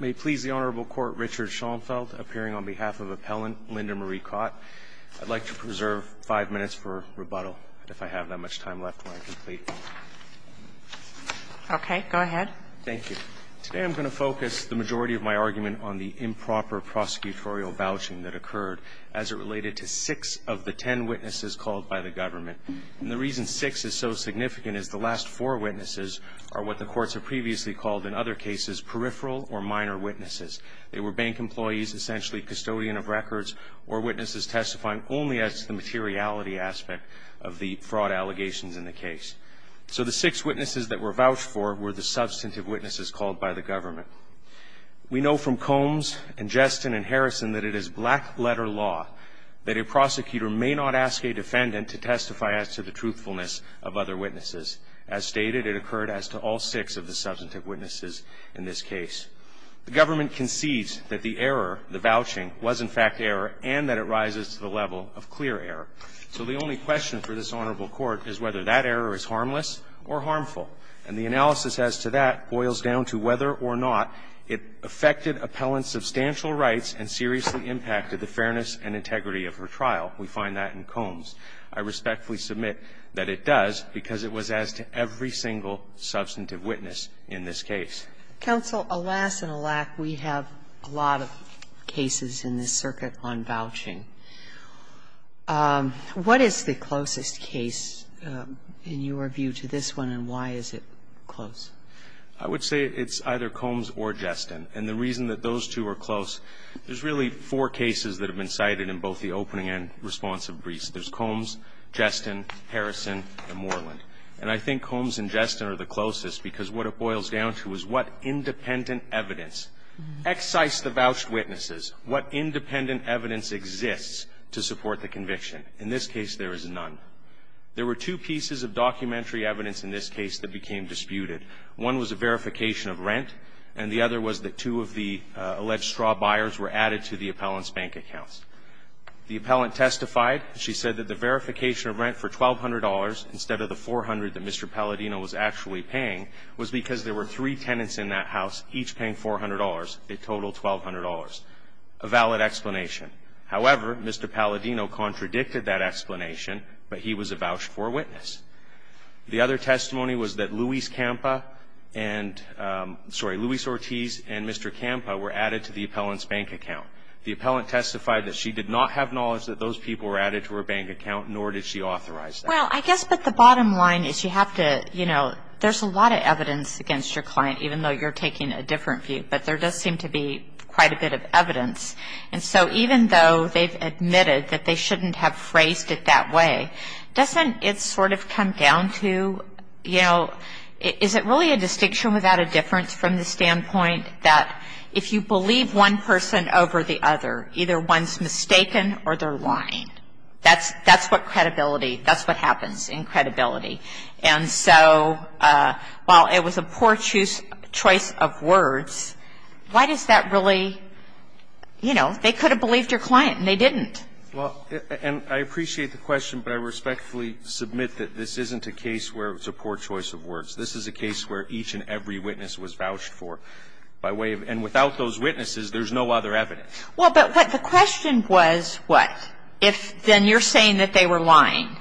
May it please the Honorable Court, Richard Schoenfeld, appearing on behalf of Appellant Linda Marie Kot. I'd like to preserve five minutes for rebuttal, if I have that much time left when I complete. Okay. Go ahead. Thank you. Today I'm going to focus the majority of my argument on the improper prosecutorial vouching that occurred as it related to six of the ten witnesses called by the government. And the reason six is so significant is the last four witnesses are what the courts have previously called, in other cases, peripheral or minor witnesses. They were bank employees, essentially custodian of records, or witnesses testifying only as the materiality aspect of the fraud allegations in the case. So the six witnesses that were vouched for were the substantive witnesses called by the government. We know from Combs and Jeston and Harrison that it is black-letter law that a prosecutor may not ask a defendant to testify as to the truthfulness of other The government concedes that the error, the vouching, was, in fact, error, and that it rises to the level of clear error. So the only question for this Honorable Court is whether that error is harmless or harmful. And the analysis as to that boils down to whether or not it affected Appellant's substantial rights and seriously impacted the fairness and integrity of her trial. We find that in Combs. I respectfully submit that it does, because it was as to every single substantive witness. It was a substantive witness in this case. Sotomayor, alas and alack, we have a lot of cases in this circuit on vouching. What is the closest case in your view to this one, and why is it close? I would say it's either Combs or Jeston. And the reason that those two are close, there's really four cases that have been cited in both the opening and responsive briefs. There's Combs, Jeston, Harrison, and Moreland. And I think Combs and Jeston are the closest, because what it boils down to is what independent evidence excised the vouched witnesses, what independent evidence exists to support the conviction. In this case, there is none. There were two pieces of documentary evidence in this case that became disputed. One was a verification of rent, and the other was that two of the alleged straw buyers were added to the Appellant's bank accounts. The Appellant testified. She said that the verification of rent for $1,200 instead of the $400 that Mr. Palladino was actually paying was because there were three tenants in that house, each paying $400. It totaled $1,200. A valid explanation. However, Mr. Palladino contradicted that explanation, but he was a vouched forewitness. The other testimony was that Luis Campa and Mr. Campa were added to the Appellant's bank account. The Appellant testified that she did not have knowledge that those people were added to her bank account, nor did she authorize that. Well, I guess, but the bottom line is you have to, you know, there's a lot of evidence against your client, even though you're taking a different view. But there does seem to be quite a bit of evidence. And so even though they've admitted that they shouldn't have phrased it that way, doesn't it sort of come down to, you know, is it really a distinction without a difference from the standpoint that if you believe one person over the other, either one's mistaken or they're lying? That's what credibility – that's what happens in credibility. And so while it was a poor choice of words, why does that really, you know, they could have believed your client and they didn't? Well, and I appreciate the question, but I respectfully submit that this isn't a case where it's a poor choice of words. This is a case where each and every witness was vouched for by way of – and without those witnesses, there's no other evidence. Well, but what the question was, what, if then you're saying that they were lying?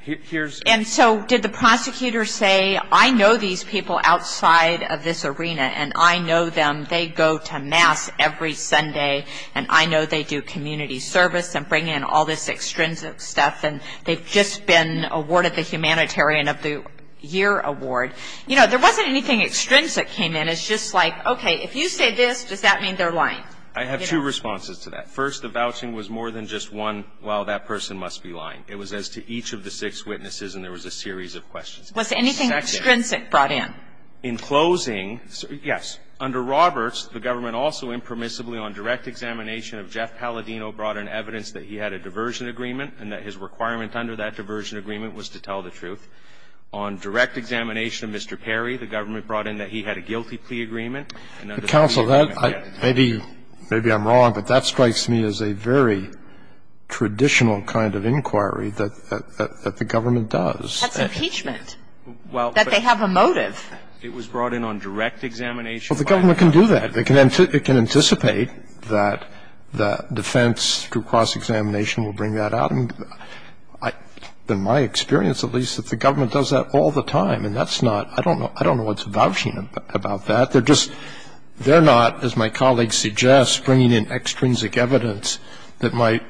Here's – And so did the prosecutor say, I know these people outside of this arena and I know them, they go to mass every Sunday and I know they do community service and bring in all this extrinsic stuff and they've just been awarded the humanitarian of the year award. You know, there wasn't anything extrinsic came in. It's just like, okay, if you say this, does that mean they're lying? I have two responses to that. First, the vouching was more than just one, well, that person must be lying. It was as to each of the six witnesses and there was a series of questions. Was anything extrinsic brought in? In closing, yes. Under Roberts, the government also impermissibly on direct examination of Jeff Palladino brought in evidence that he had a diversion agreement and that his requirement under that diversion agreement was to tell the truth. On direct examination of Mr. Perry, the government brought in that he had a guilty plea agreement and under the plea agreement, yes. Counsel, maybe I'm wrong, but that strikes me as a very traditional kind of inquiry that the government does. That's impeachment, that they have a motive. Well, but it was brought in on direct examination by the government. Well, the government can do that. They can anticipate that the defense through cross-examination will bring that out. In my experience, at least, that the government does that all the time and that's not – I don't know what's vouching about that. They're just – they're not, as my colleague suggests, bringing in extrinsic evidence that might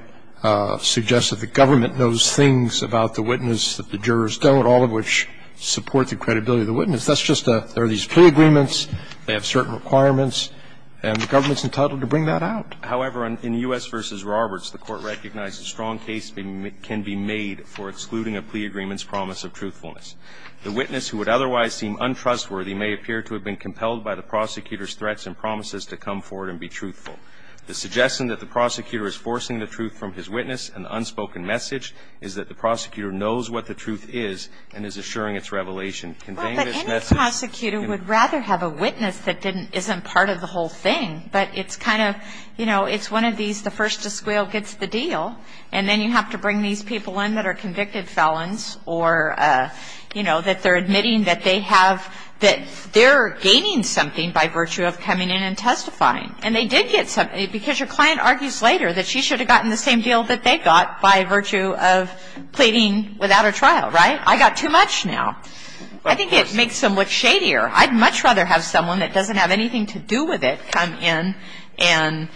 suggest that the government knows things about the witness that the jurors don't, all of which support the credibility of the witness. That's just a – there are these plea agreements, they have certain requirements, and the government's entitled to bring that out. However, in U.S. v. Roberts, the Court recognized a strong case can be made for excluding a plea agreement's promise of truthfulness. The witness who would otherwise seem untrustworthy may appear to have been compelled by the prosecutor's threats and promises to come forward and be truthful. The suggestion that the prosecutor is forcing the truth from his witness and the unspoken message is that the prosecutor knows what the truth is and is assuring its revelation. And in this case, it's not the prosecutor. It's the prosecutor who has to come forward and convey this message. And the prosecutor would rather have a witness that didn't – isn't part of the whole thing. But it's kind of – you know, it's one of these – the first to squeal gets the deal and then you have to bring these people in that are convicted felons, or, you know, they're gaining something by virtue of coming in and testifying. And they did get something, because your client argues later that she should have gotten the same deal that they got by virtue of pleading without a trial, right? I got too much now. I think it makes them look shadier. I'd much rather have someone that doesn't have anything to do with it come in and,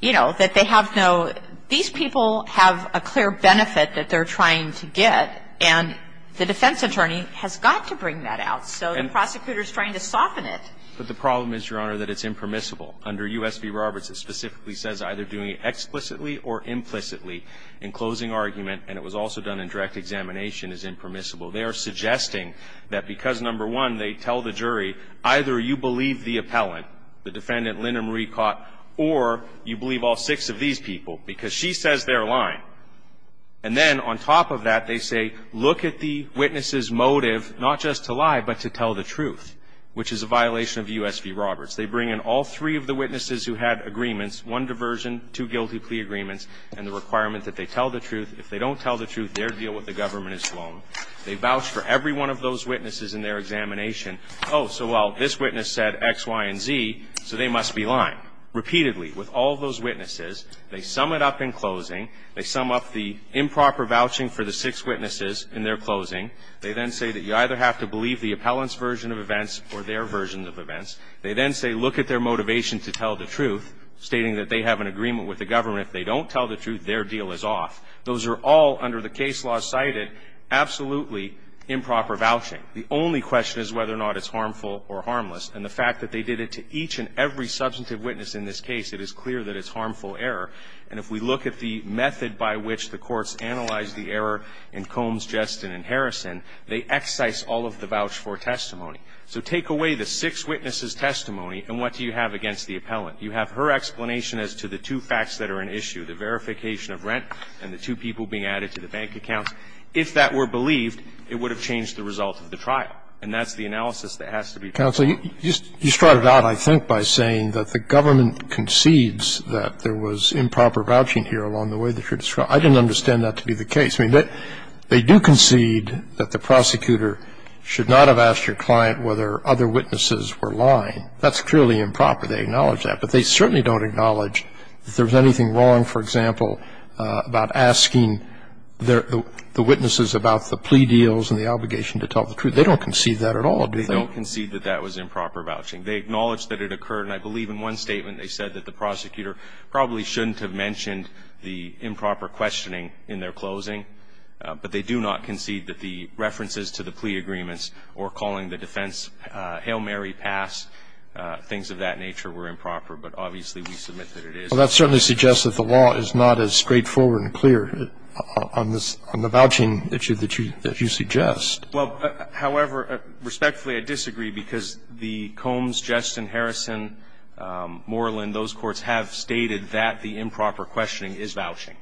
you know, that they have no – these people have a clear benefit that they're trying to get, and the defense attorney has got to bring that out. So the prosecutor is trying to soften it. But the problem is, Your Honor, that it's impermissible. Under U.S. v. Roberts, it specifically says either doing it explicitly or implicitly in closing argument, and it was also done in direct examination, is impermissible. They are suggesting that because, number one, they tell the jury, either you believe the appellant, the defendant Linda Marie Cott, or you believe all six of these people, because she says they're lying. And then on top of that, they say, look at the witness's motive not just to lie, but to tell the truth, which is a violation of U.S. v. Roberts. They bring in all three of the witnesses who had agreements, one diversion, two guilty plea agreements, and the requirement that they tell the truth. If they don't tell the truth, their deal with the government is sloaned. They vouch for every one of those witnesses in their examination. Oh, so, well, this witness said X, Y, and Z, so they must be lying. Repeatedly, with all those witnesses, they sum it up in closing. They sum up the improper vouching for the six witnesses in their closing. They then say that you either have to believe the appellant's version of events or their version of events. They then say, look at their motivation to tell the truth, stating that they have an agreement with the government. If they don't tell the truth, their deal is off. Those are all, under the case law cited, absolutely improper vouching. The only question is whether or not it's harmful or harmless. And the fact that they did it to each and every substantive witness in this case, it is clear that it's harmful error. I don't think it's appropriate to concede that the prosecutor should not have asked your client whether other witnesses were lying. That's clearly improper. They acknowledge that. But they certainly don't acknowledge that there's anything wrong, for example, about asking the witnesses about the plea deals and the obligation to tell the truth. They don't concede that at all, do they? They don't concede that that was improper vouching. They acknowledge that it occurred. And I believe in one statement, they said that the prosecutor probably shouldn't have mentioned the improper questioning in their closing. But they do not concede that the references to the plea agreements or calling the defense Hail Mary pass, things of that nature, were improper. But obviously, we submit that it is. Well, that certainly suggests that the law is not as straightforward and clear on this – on the vouching issue that you – that you suggest. Well, however, respectfully, I disagree, because the Combs, Jetson, Harrison, Moreland, those courts have stated that the improper questioning is vouching.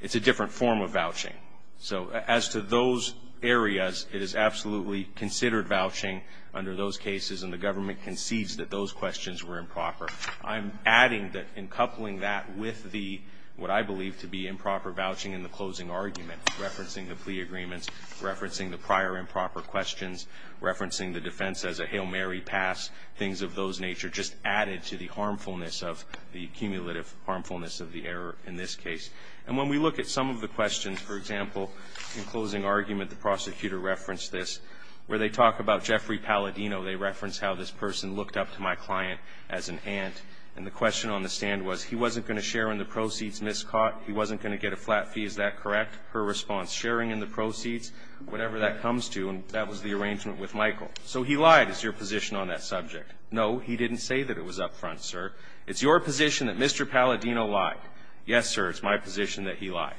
It's a different form of vouching. So as to those areas, it is absolutely considered vouching under those cases, and the government concedes that those questions were improper. I'm adding that in coupling that with the – what I believe to be improper vouching in the closing argument, referencing the plea agreements, referencing the prior improper questions, referencing the defense as a Hail Mary pass, things of those nature, just added to the harmfulness of – the cumulative harmfulness of the error in this case. And when we look at some of the questions, for example, in closing argument, the prosecutor referenced this, where they talk about Jeffrey Palladino. They reference how this person looked up to my client as an aunt, and the question on the stand was, he wasn't going to share in the proceeds miscaught. He wasn't going to get a flat fee. Is that correct? Her response, sharing in the proceeds, whatever that comes to, and that was the arrangement with Michael. So he lied is your position on that subject. No, he didn't say that it was up front, sir. It's your position that Mr. Palladino lied. Yes, sir, it's my position that he lied.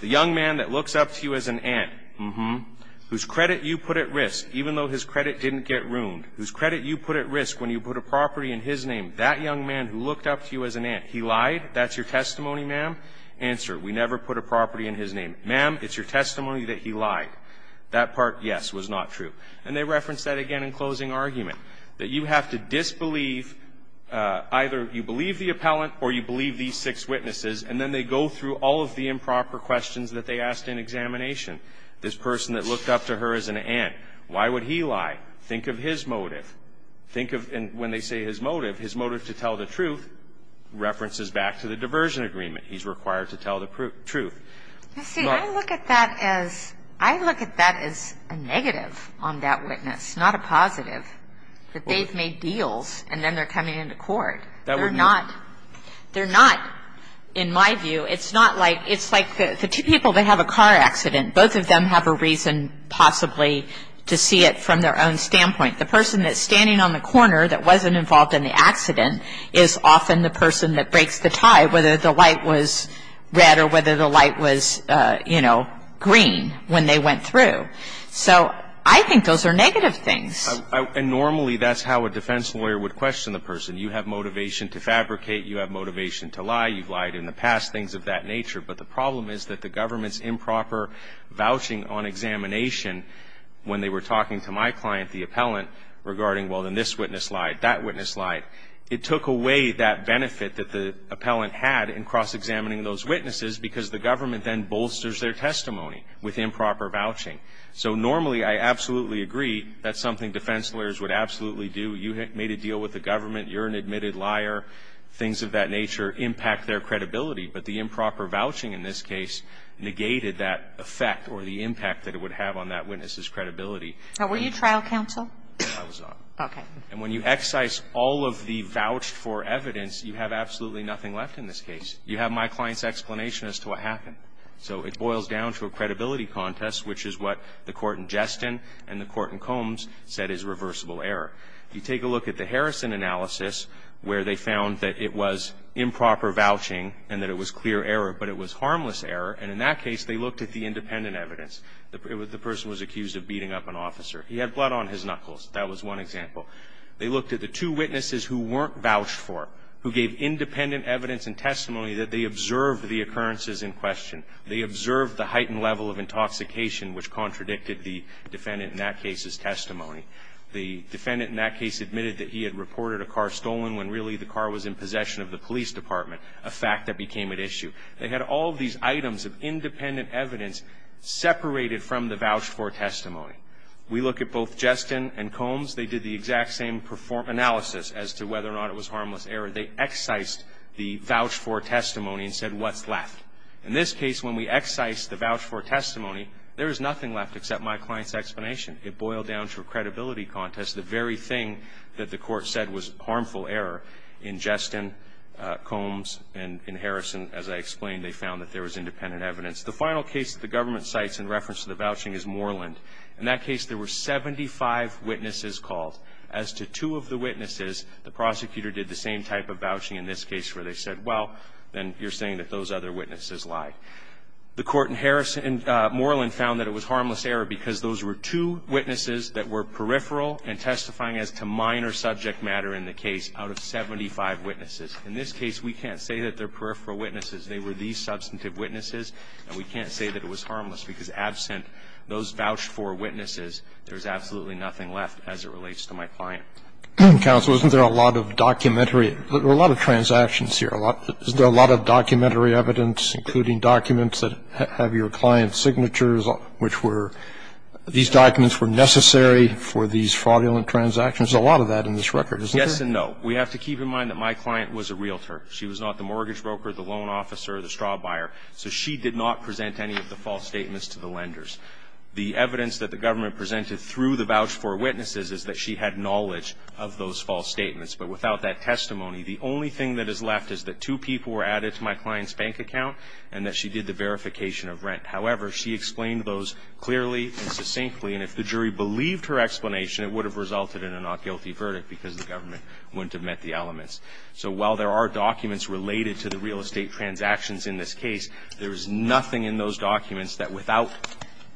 The young man that looks up to you as an aunt, whose credit you put at risk, even though his credit didn't get ruined, whose credit you put at risk when you put a property in his name, that young man who looked up to you as an aunt, he lied? That's your testimony, ma'am? Answer, we never put a property in his name. Ma'am, it's your testimony that he lied. That part, yes, was not true. And they reference that again in closing argument, that you have to disbelieve either you believe the appellant or you believe these six witnesses, and then they go through all of the improper questions that they asked in examination. This person that looked up to her as an aunt, why would he lie? Think of his motive. Think of, and when they say his motive, his motive to tell the truth references back to the diversion agreement. He's required to tell the truth. You see, I look at that as, I look at that as a negative on that witness, not a positive, that they've made deals and then they're coming into court. They're not, they're not, in my view, it's not like, it's like the two people that have a car accident, both of them have a reason, possibly, to see it from their own standpoint. The person that's standing on the corner that wasn't involved in the accident is often the person that breaks the tie, whether the light was red or whether the light was, you know, green when they went through. So I think those are negative things. And normally that's how a defense lawyer would question the person. You have motivation to fabricate, you have motivation to lie, you've lied in the past, things of that nature. But the problem is that the government's improper vouching on examination when they were talking to my client, the appellant, regarding, well, then this witness lied, that witness lied. It took away that benefit that the appellant had in cross-examining those witnesses because the government then bolsters their testimony with improper vouching. So normally, I absolutely agree, that's something defense lawyers would absolutely do. You made a deal with the government, you're an admitted liar, things of that nature impact their credibility. But the improper vouching in this case negated that effect or the impact that it would have on that witness's credibility. Were you trial counsel? I was not. Okay. And when you excise all of the vouched for evidence, you have absolutely nothing left in this case. You have my client's explanation as to what happened. So it boils down to a credibility contest, which is what the court in Jeston and the court in Combs said is reversible error. You take a look at the Harrison analysis where they found that it was improper vouching and that it was clear error, but it was harmless error. And in that case, they looked at the independent evidence. The person was accused of beating up an officer. He had blood on his knuckles. That was one example. They looked at the two witnesses who weren't vouched for, who gave independent evidence and testimony that they observed the occurrences in question. They observed the heightened level of intoxication, which contradicted the defendant in that case's testimony. The defendant in that case admitted that he had reported a car stolen when really the car was in possession of the police department, a fact that became at issue. They had all of these items of independent evidence separated from the vouched for testimony. We look at both Jeston and Combs. They did the exact same analysis as to whether or not it was harmless error. They excised the vouched for testimony and said, what's left? In this case, when we excise the vouched for testimony, there is nothing left except my client's explanation. It boiled down to a credibility contest. The very thing that the court said was harmful error in Jeston, Combs, and in Harrison, as I explained, they found that there was independent evidence. The final case that the government cites in reference to the vouching is Moreland. In that case, there were 75 witnesses called. As to two of the witnesses, the prosecutor did the same type of vouching in this case where they said, well, then you're saying that those other witnesses lied. The court in Moreland found that it was harmless error because those were two witnesses that were peripheral and testifying as to minor subject matter in the case out of 75 witnesses. In this case, we can't say that they're peripheral witnesses. They were these substantive witnesses, and we can't say that it was harmless because absent those vouched for witnesses, there's absolutely nothing left as it relates to my client. Roberts, isn't there a lot of documentary or a lot of transactions here? Is there a lot of documentary evidence, including documents that have your client's signatures, which were these documents were necessary for these fraudulent transactions? There's a lot of that in this record, isn't there? Yes and no. We have to keep in mind that my client was a realtor. She was not the mortgage broker, the loan officer, the straw buyer. So she did not present any of the false statements to the lenders. The evidence that the government presented through the vouched for witnesses is that she had knowledge of those false statements. But without that testimony, the only thing that is left is that two people were added to my client's bank account and that she did the verification of rent. However, she explained those clearly and succinctly. And if the jury believed her explanation, it would have resulted in a not guilty verdict because the government wouldn't have met the elements. So while there are documents related to the real estate transactions in this case, there is nothing in those documents that without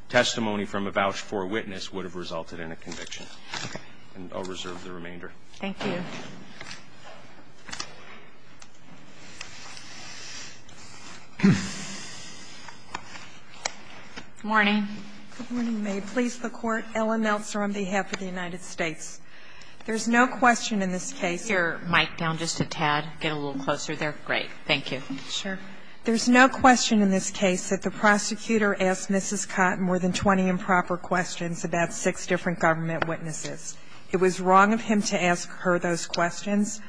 testimony from a vouched for witness would have resulted in a conviction. And I'll reserve the remainder. Thank you. Good morning. Good morning, may it please the court. Ellen Meltzer on behalf of the United States. There's no question in this case. Could you move your mic down just a tad, get a little closer there? Great, thank you. Sure. There's no question in this case that the prosecutor asked Mrs. Cotton more than 20 improper questions about six different government witnesses. It was wrong of him to ask her those questions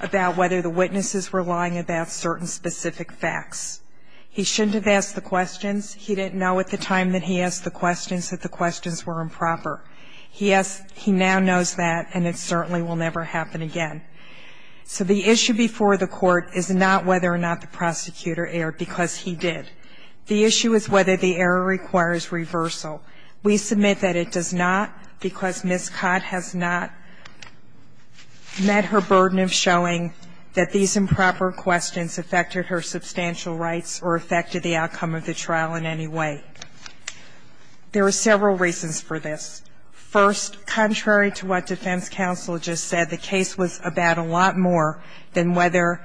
about whether the witnesses were lying about certain specific facts. He shouldn't have asked the questions. He didn't know at the time that he asked the questions that the questions were improper. He now knows that and it certainly will never happen again. So the issue before the court is not whether or not the prosecutor erred, because he did. The issue is whether the error requires reversal. We submit that it does not, because Ms. Cott has not met her burden of showing that these improper questions affected her substantial rights or affected the outcome of the trial in any way. There are several reasons for this. First, contrary to what defense counsel just said, the case was about a lot more than whether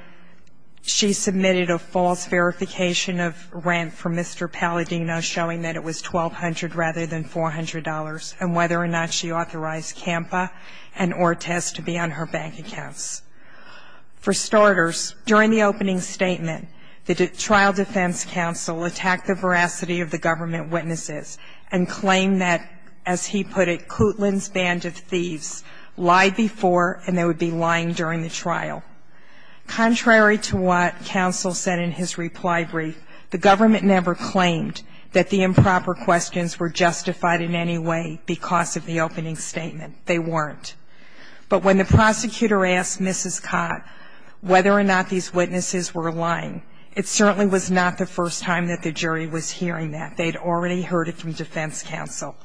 she submitted a false verification of rent for Mr. Palladino, showing that it was $1,200 rather than $400, and whether or not she authorized CAMPA and ORTES to be on her bank accounts. For starters, during the opening statement, the trial defense counsel attacked the veracity of the government witnesses and claimed that, as he put it, Kootland's band of thieves lied before and they would be lying during the trial. Contrary to what counsel said in his reply brief, the government never claimed that the improper questions were justified in any way because of the opening statement. They weren't. But when the prosecutor asked Mrs. Cott whether or not these witnesses were lying, it certainly was not the first time that the jury was hearing that. They had already heard it from defense counsel.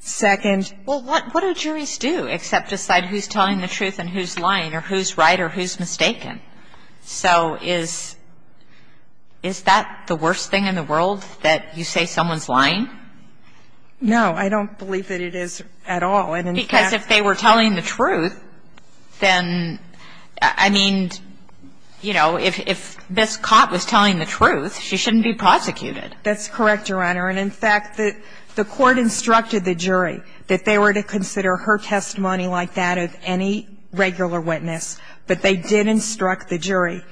Second ---- Well, what do juries do except decide who's telling the truth and who's lying or who's right or who's mistaken? So is that the worst thing in the world, that you say someone's lying? No. I don't believe that it is at all. And in fact ---- Because if they were telling the truth, then, I mean, you know, if Ms. Cott was telling the truth, she shouldn't be prosecuted. That's correct, Your Honor. And in fact, the court instructed the jury that they were to consider her testimony like that of any regular witness. But they did instruct the jury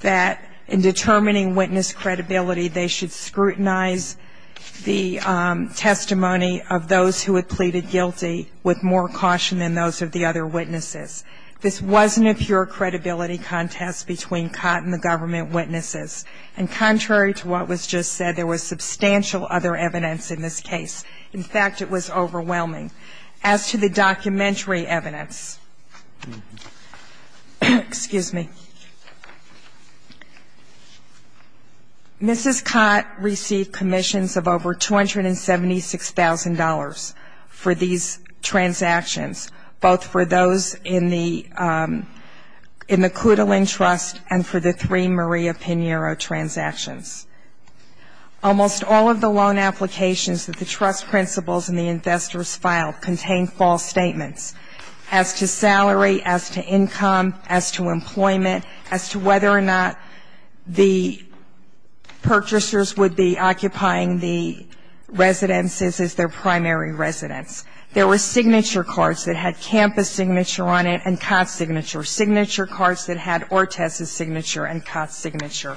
that in determining witness credibility, they should scrutinize the testimony of those who had pleaded guilty with more caution than those of the other witnesses. This wasn't a pure credibility contest between Cott and the government witnesses. And contrary to what was just said, there was substantial other evidence in this case. In fact, it was overwhelming. As to the documentary evidence, excuse me, Mrs. Cott received commissions of over $276,000 for these transactions, both for those in the Clutalin Trust and for the three Maria Pinheiro transactions. Almost all of the loan applications that the trust principals and the investors filed contained false statements as to salary, as to income, as to employment, as to whether or not the purchasers would be occupying the residences as their primary residence. There were signature cards that had Campa's signature on it and Cott's signature, signature cards that had Ortiz's signature and Cott's signature.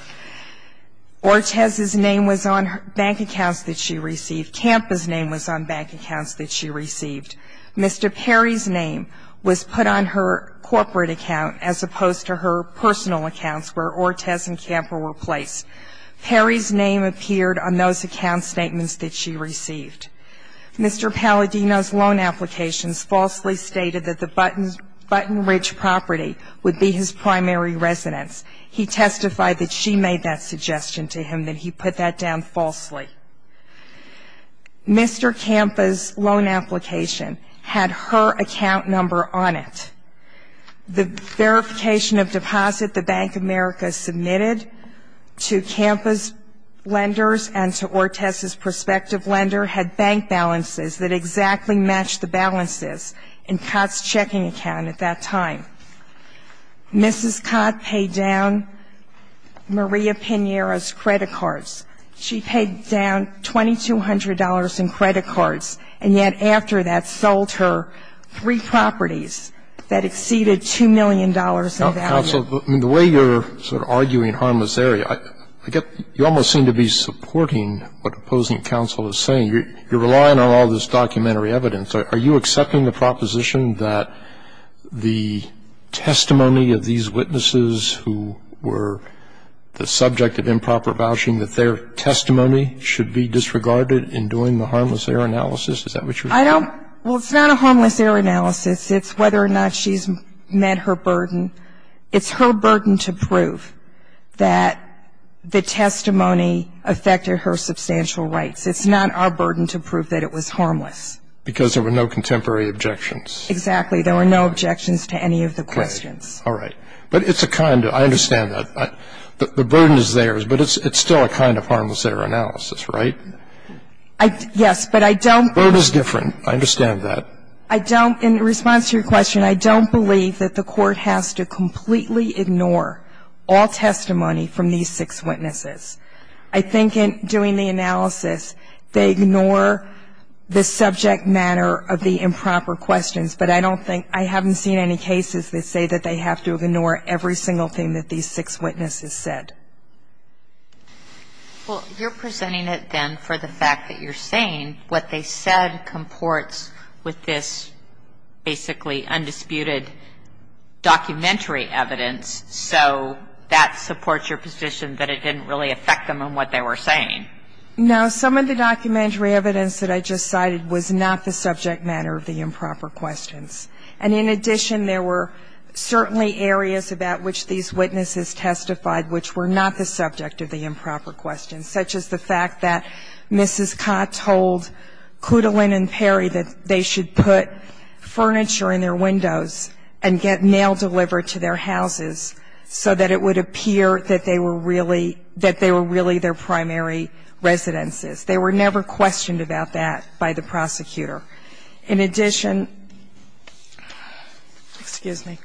Ortiz's name was on bank accounts that she received. Campa's name was on bank accounts that she received. Mr. Perry's name was put on her corporate account as opposed to her personal accounts where Ortiz and Campa were placed. Perry's name appeared on those account statements that she received. Mr. Palladino's loan applications falsely stated that the Button Ridge property would be his primary residence. He testified that she made that suggestion to him, that he put that down falsely. Mr. Campa's loan application had her account number on it. The verification of deposit the Bank of America submitted to Campa's lenders and to Ortiz's prospective lender had bank balances that exactly matched the balances in Cott's checking account at that time. Mrs. Cott paid down Maria Pinheiro's credit cards. She paid down $2,200 in credit cards, and yet after that sold her three properties that exceeded $2 million in value. Counsel, the way you're sort of arguing harmless area, I get you almost seem to be supporting what opposing counsel is saying. You're relying on all this documentary evidence. Are you accepting the proposition that the testimony of these witnesses who were the subject of improper vouching, that their testimony should be disregarded in doing the harmless error analysis? Is that what you're saying? I don't, well, it's not a harmless error analysis. It's whether or not she's met her burden. It's her burden to prove that the testimony affected her substantial rights. It's not our burden to prove that it was harmless. Because there were no contemporary objections. Exactly. There were no objections to any of the questions. All right. But it's a kind of, I understand that, the burden is theirs. But it's still a kind of harmless error analysis, right? Yes, but I don't. Burden is different. I understand that. I don't, in response to your question, I don't believe that the court has to completely ignore all testimony from these six witnesses. I think in doing the analysis, they ignore the subject matter of the improper questions. But I don't think, I haven't seen any cases that say that they have to ignore every single thing that these six witnesses said. Well, you're presenting it then for the fact that you're saying what they said comports with this basically undisputed documentary evidence. So that supports your position that it didn't really affect them on what they were saying. No, some of the documentary evidence that I just cited was not the subject matter of the improper questions. And in addition, there were certainly areas about which these witnesses testified which were not the subject of the improper questions. Such as the fact that Mrs. Cott told Clutalin and Perry that they should put furniture in their windows and get mail delivered to their houses so that it would appear that they were really their primary residences. They were never questioned about that by the prosecutor. In addition, excuse me.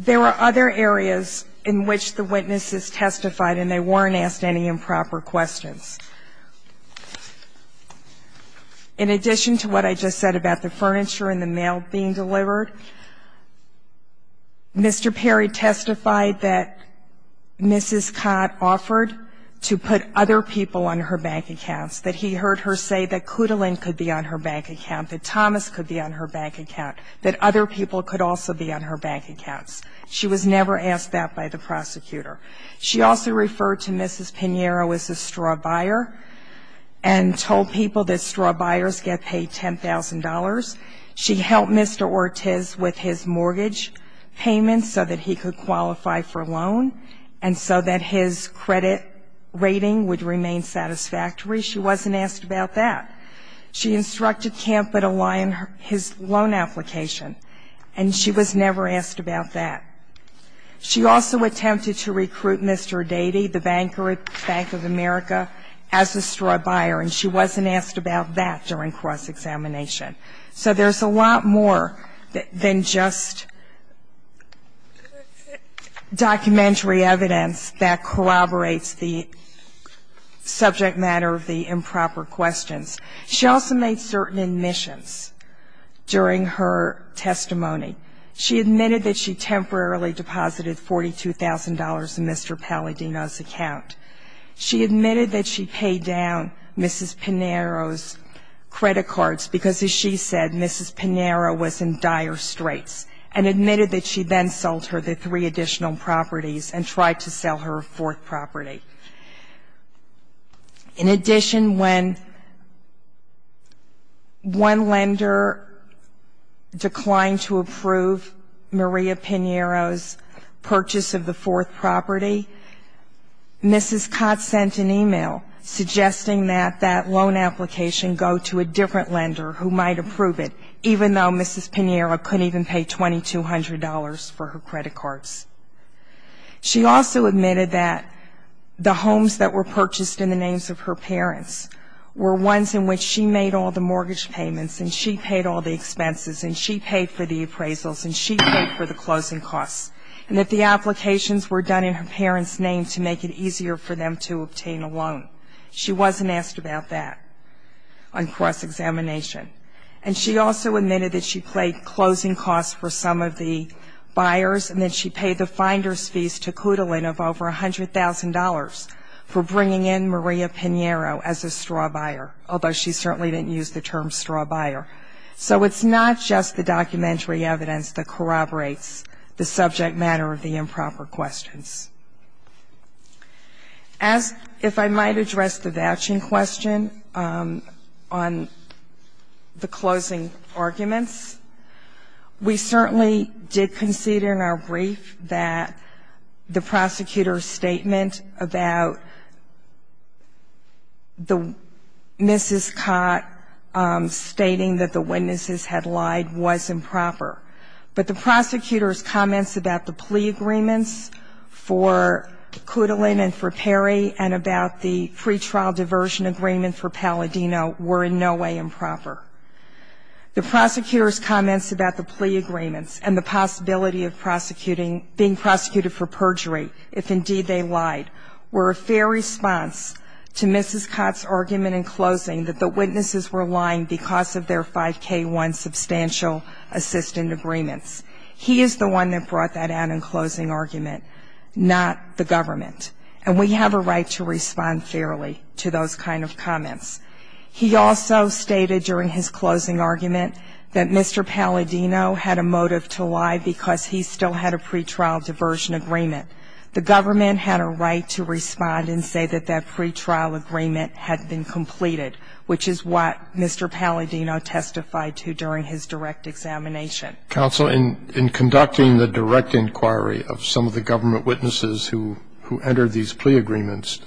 There were other areas in which the witnesses testified and they weren't asked any improper questions. In addition to what I just said about the furniture and the mail being delivered, Mr. Perry testified that Mrs. Cott offered to put other people on her bank accounts. That he heard her say that Clutalin could be on her bank account, that Thomas could be on her bank account. That other people could also be on her bank accounts. She was never asked that by the prosecutor. She also referred to Mrs. Pinheiro as a straw buyer and told people that straw buyers get paid $10,000. She helped Mr. Ortiz with his mortgage payments so that he could qualify for a loan and so that his credit rating would remain satisfactory. She wasn't asked about that. She instructed Campbell to line his loan application. And she was never asked about that. She also attempted to recruit Mr. Dadey, the banker at Bank of America, as a straw buyer, and she wasn't asked about that during cross-examination. So there's a lot more than just documentary evidence that corroborates the subject matter of the improper questions. She also made certain admissions during her testimony. She admitted that she temporarily deposited $42,000 in Mr. Palladino's account. She admitted that she paid down Mrs. Pinheiro's credit cards, because as she said, Mrs. Pinheiro was in dire straits. And admitted that she then sold her the three additional properties and tried to sell her a fourth property. In addition, when one lender declined to approve Maria Pinheiro's purchase of the fourth property, Mrs. Cott sent an email suggesting that that loan application go to a different lender who might approve it, even though Mrs. Pinheiro couldn't even pay $2,200 for her credit cards. She also admitted that the homes that were purchased in the names of her parents were ones in which she made all the mortgage payments, and she paid all the expenses, and she paid for the appraisals, and she paid for the closing costs. And that the applications were done in her parents' name to make it easier for them to obtain a loan. She wasn't asked about that on cross-examination. And she also admitted that she paid closing costs for some of the buyers, and that she paid the finder's fees to Coodling of over $100,000 for bringing in Maria Pinheiro as a straw buyer, although she certainly didn't use the term straw buyer. So it's not just the documentary evidence that corroborates the subject matter of the improper questions. As, if I might address the vouching question on the closing arguments, we certainly did concede in our brief that the prosecutor's statement about the Mrs. Cott stating that the witnesses had lied was improper. But the prosecutor's comments about the plea agreements for Coodling and for Perry and about the pretrial diversion agreement for Palladino were in no way improper. The prosecutor's comments about the plea agreements and the possibility of being prosecuted for perjury, if indeed they lied, were a fair response to Mrs. Cott's argument in closing that the witnesses were lying because of their 5K1 substantial assistant agreements. He is the one that brought that out in closing argument, not the government. And we have a right to respond fairly to those kind of comments. He also stated during his closing argument that Mr. Palladino had a motive to lie because he still had a pretrial diversion agreement. The government had a right to respond and say that that pretrial agreement had been completed, which is what Mr. Palladino testified to during his direct examination. Counsel, in conducting the direct inquiry of some of the government witnesses who entered these plea agreements,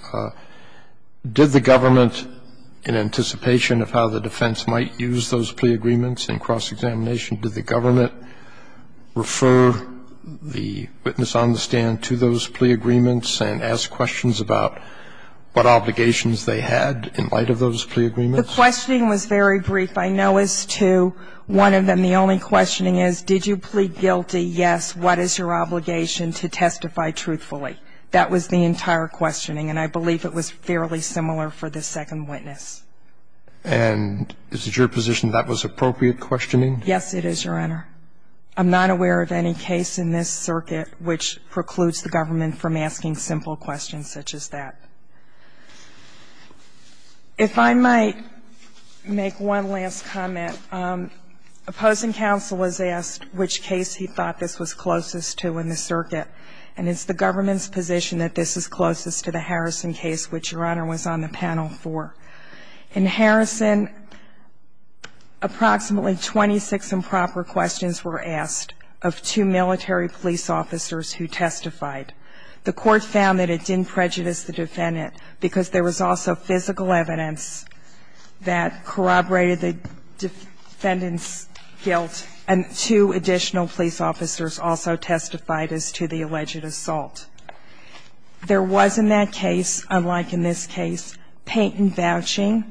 did the government, in anticipation of how the defense might use those plea agreements in cross-examination, did the government refer the witness on the stand to those plea agreements and ask questions about what obligations they had in light of those plea agreements? The questioning was very brief. I know as to one of them, the only questioning is, did you plead guilty? Yes, what is your obligation to testify truthfully? That was the entire questioning, and I believe it was fairly similar for the second witness. And is it your position that that was appropriate questioning? Yes, it is, Your Honor. I'm not aware of any case in this circuit which precludes the government from asking simple questions such as that. If I might make one last comment. Opposing counsel was asked which case he thought this was closest to in the circuit. And it's the government's position that this is closest to the Harrison case, which, Your Honor, was on the panel for. In Harrison, approximately 26 improper questions were asked of two military police officers who testified. The court found that it didn't prejudice the defendant, because there was also physical evidence that corroborated the defendant's guilt. And two additional police officers also testified as to the alleged assault. There was, in that case, unlike in this case, patent vouching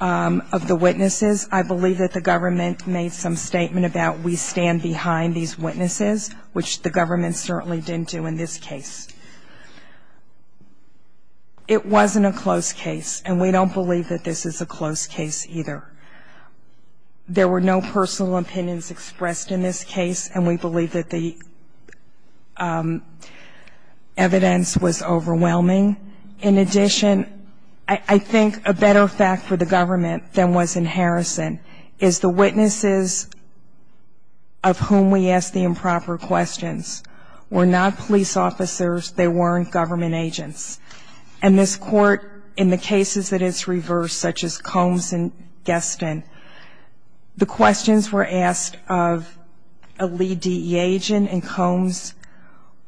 of the witnesses. I believe that the government made some statement about we stand behind these witnesses, which the government certainly didn't do in this case. It wasn't a close case, and we don't believe that this is a close case either. There were no personal opinions expressed in this case, and we believe that the evidence was overwhelming. In addition, I think a better fact for the government than was in Harrison is the witnesses of whom we asked the improper questions were not police officers. They weren't government agents. And this court, in the cases that it's reversed, such as Combs and the DE agent in Combs,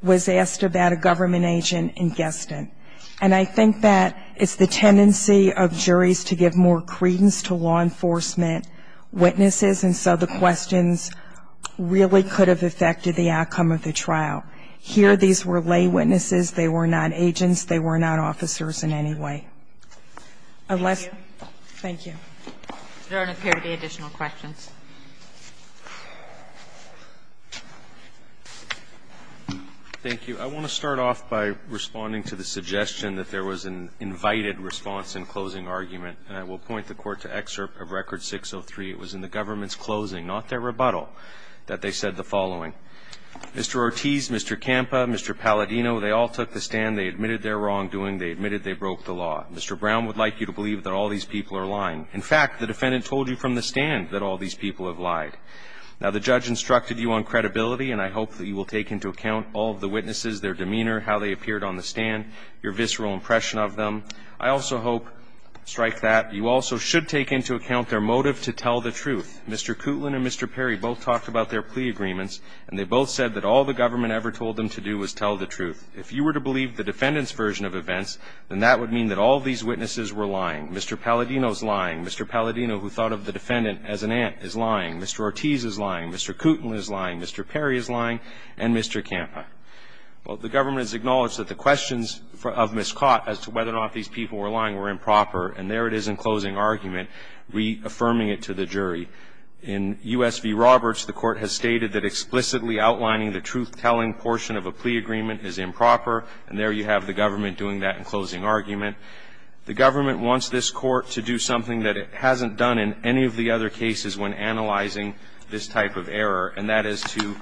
was asked about a government agent in Guestin. And I think that it's the tendency of juries to give more credence to law enforcement witnesses, and so the questions really could have affected the outcome of the trial. Here, these were lay witnesses. They were not agents. They were not officers in any way. Unless. Thank you. If there are no further additional questions. Thank you. I want to start off by responding to the suggestion that there was an invited response in closing argument, and I will point the Court to excerpt of Record 603. It was in the government's closing, not their rebuttal, that they said the following. Mr. Ortiz, Mr. Campa, Mr. Palladino, they all took the stand. They admitted their wrongdoing. They admitted they broke the law. Mr. Brown would like you to believe that all these people are lying. In fact, the defendant told you from the stand that all these people have lied. Now, the judge instructed you on credibility, and I hope that you will take into account all of the witnesses, their demeanor, how they appeared on the stand, your visceral impression of them. I also hope, strike that, you also should take into account their motive to tell the truth. Mr. Kootland and Mr. Perry both talked about their plea agreements, and they both said that all the government ever told them to do was tell the truth. If you were to believe the defendant's version of events, then that would mean that all these witnesses were lying. Mr. Palladino's lying. Mr. Palladino, who thought of the defendant as an ant, is lying. Mr. Ortiz is lying. Mr. Kootland is lying. Mr. Perry is lying. And Mr. Campa. Well, the government has acknowledged that the questions of Ms. Cott as to whether or not these people were lying were improper, and there it is in closing argument reaffirming it to the jury. In US v Roberts, the court has stated that explicitly outlining the truth-telling portion of a plea agreement is improper, and there you have the government doing that in closing argument. The government wants this court to do something that it hasn't done in any of the other cases when analyzing this type of error, and that is to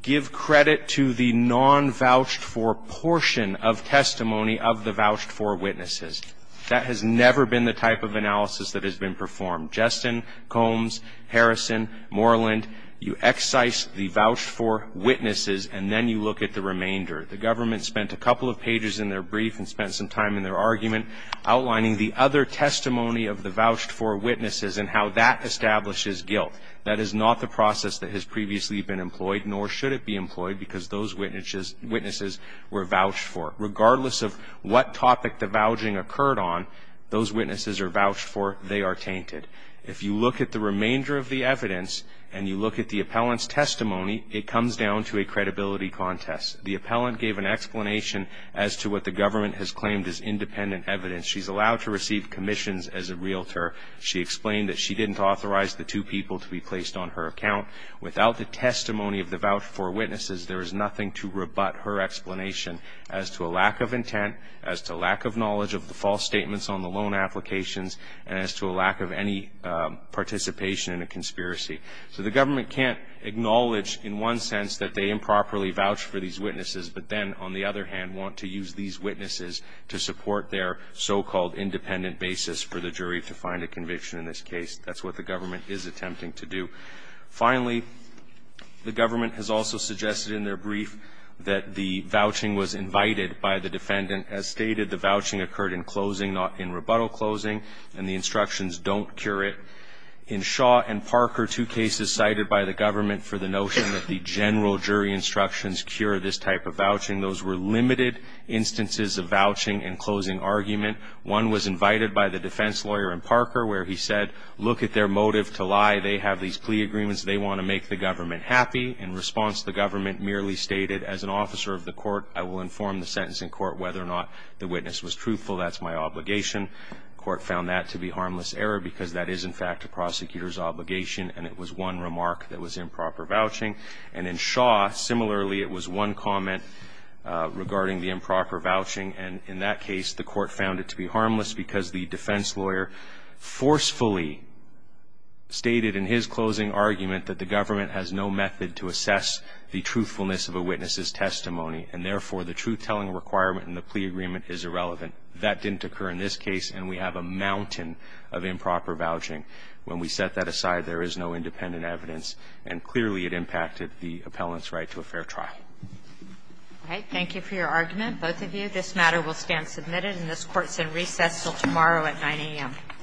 give credit to the non-vouched-for portion of testimony of the vouched-for witnesses. That has never been the type of analysis that has been performed. Justin, Combs, Harrison, Moreland, you excise the vouched-for witnesses, and then you look at the remainder. The government spent a couple of pages in their brief and spent some time in their argument outlining the other testimony of the vouched-for witnesses and how that establishes guilt. That is not the process that has previously been employed, nor should it be employed, because those witnesses were vouched for. Regardless of what topic the vouching occurred on, those witnesses are vouched for, they are tainted. If you look at the remainder of the evidence, and you look at the appellant's testimony, it comes down to a credibility contest. The appellant gave an explanation as to what the government has claimed as independent evidence. She's allowed to receive commissions as a realtor. She explained that she didn't authorize the two people to be placed on her account. Without the testimony of the vouched-for witnesses, there is nothing to rebut her explanation as to a lack of intent, as to lack of knowledge of the false statements on the loan applications, and as to a lack of any participation in a conspiracy. So the government can't acknowledge, in one sense, that they improperly vouched for these witnesses, but then, on the other hand, want to use these witnesses to support their so-called independent basis for the jury to find a conviction in this case. That's what the government is attempting to do. Finally, the government has also suggested in their brief that the vouching was invited by the defendant. As stated, the vouching occurred in closing, not in rebuttal closing, and the instructions don't cure it. In Shaw and Parker, two cases cited by the government for the notion that the general jury instructions cure this type of vouching. Those were limited instances of vouching in closing argument. One was invited by the defense lawyer in Parker, where he said, look at their motive to lie. They have these plea agreements. They want to make the government happy. In response, the government merely stated, as an officer of the court, I will inform the sentencing court whether or not the witness was truthful. That's my obligation. Court found that to be harmless error because that is, in fact, a prosecutor's obligation, and it was one remark that was improper vouching. And in Shaw, similarly, it was one comment regarding the improper vouching. And in that case, the court found it to be harmless because the defense lawyer forcefully stated in his closing argument that the government has no method to assess the truthfulness of a witness's testimony. And therefore, the truth-telling requirement in the plea agreement is irrelevant. That didn't occur in this case, and we have a mountain of improper vouching. When we set that aside, there is no independent evidence, and clearly it impacted the appellant's right to a fair trial. All right. Thank you for your argument, both of you. This matter will stand submitted, and this Court's in recess until tomorrow at 9 a.m.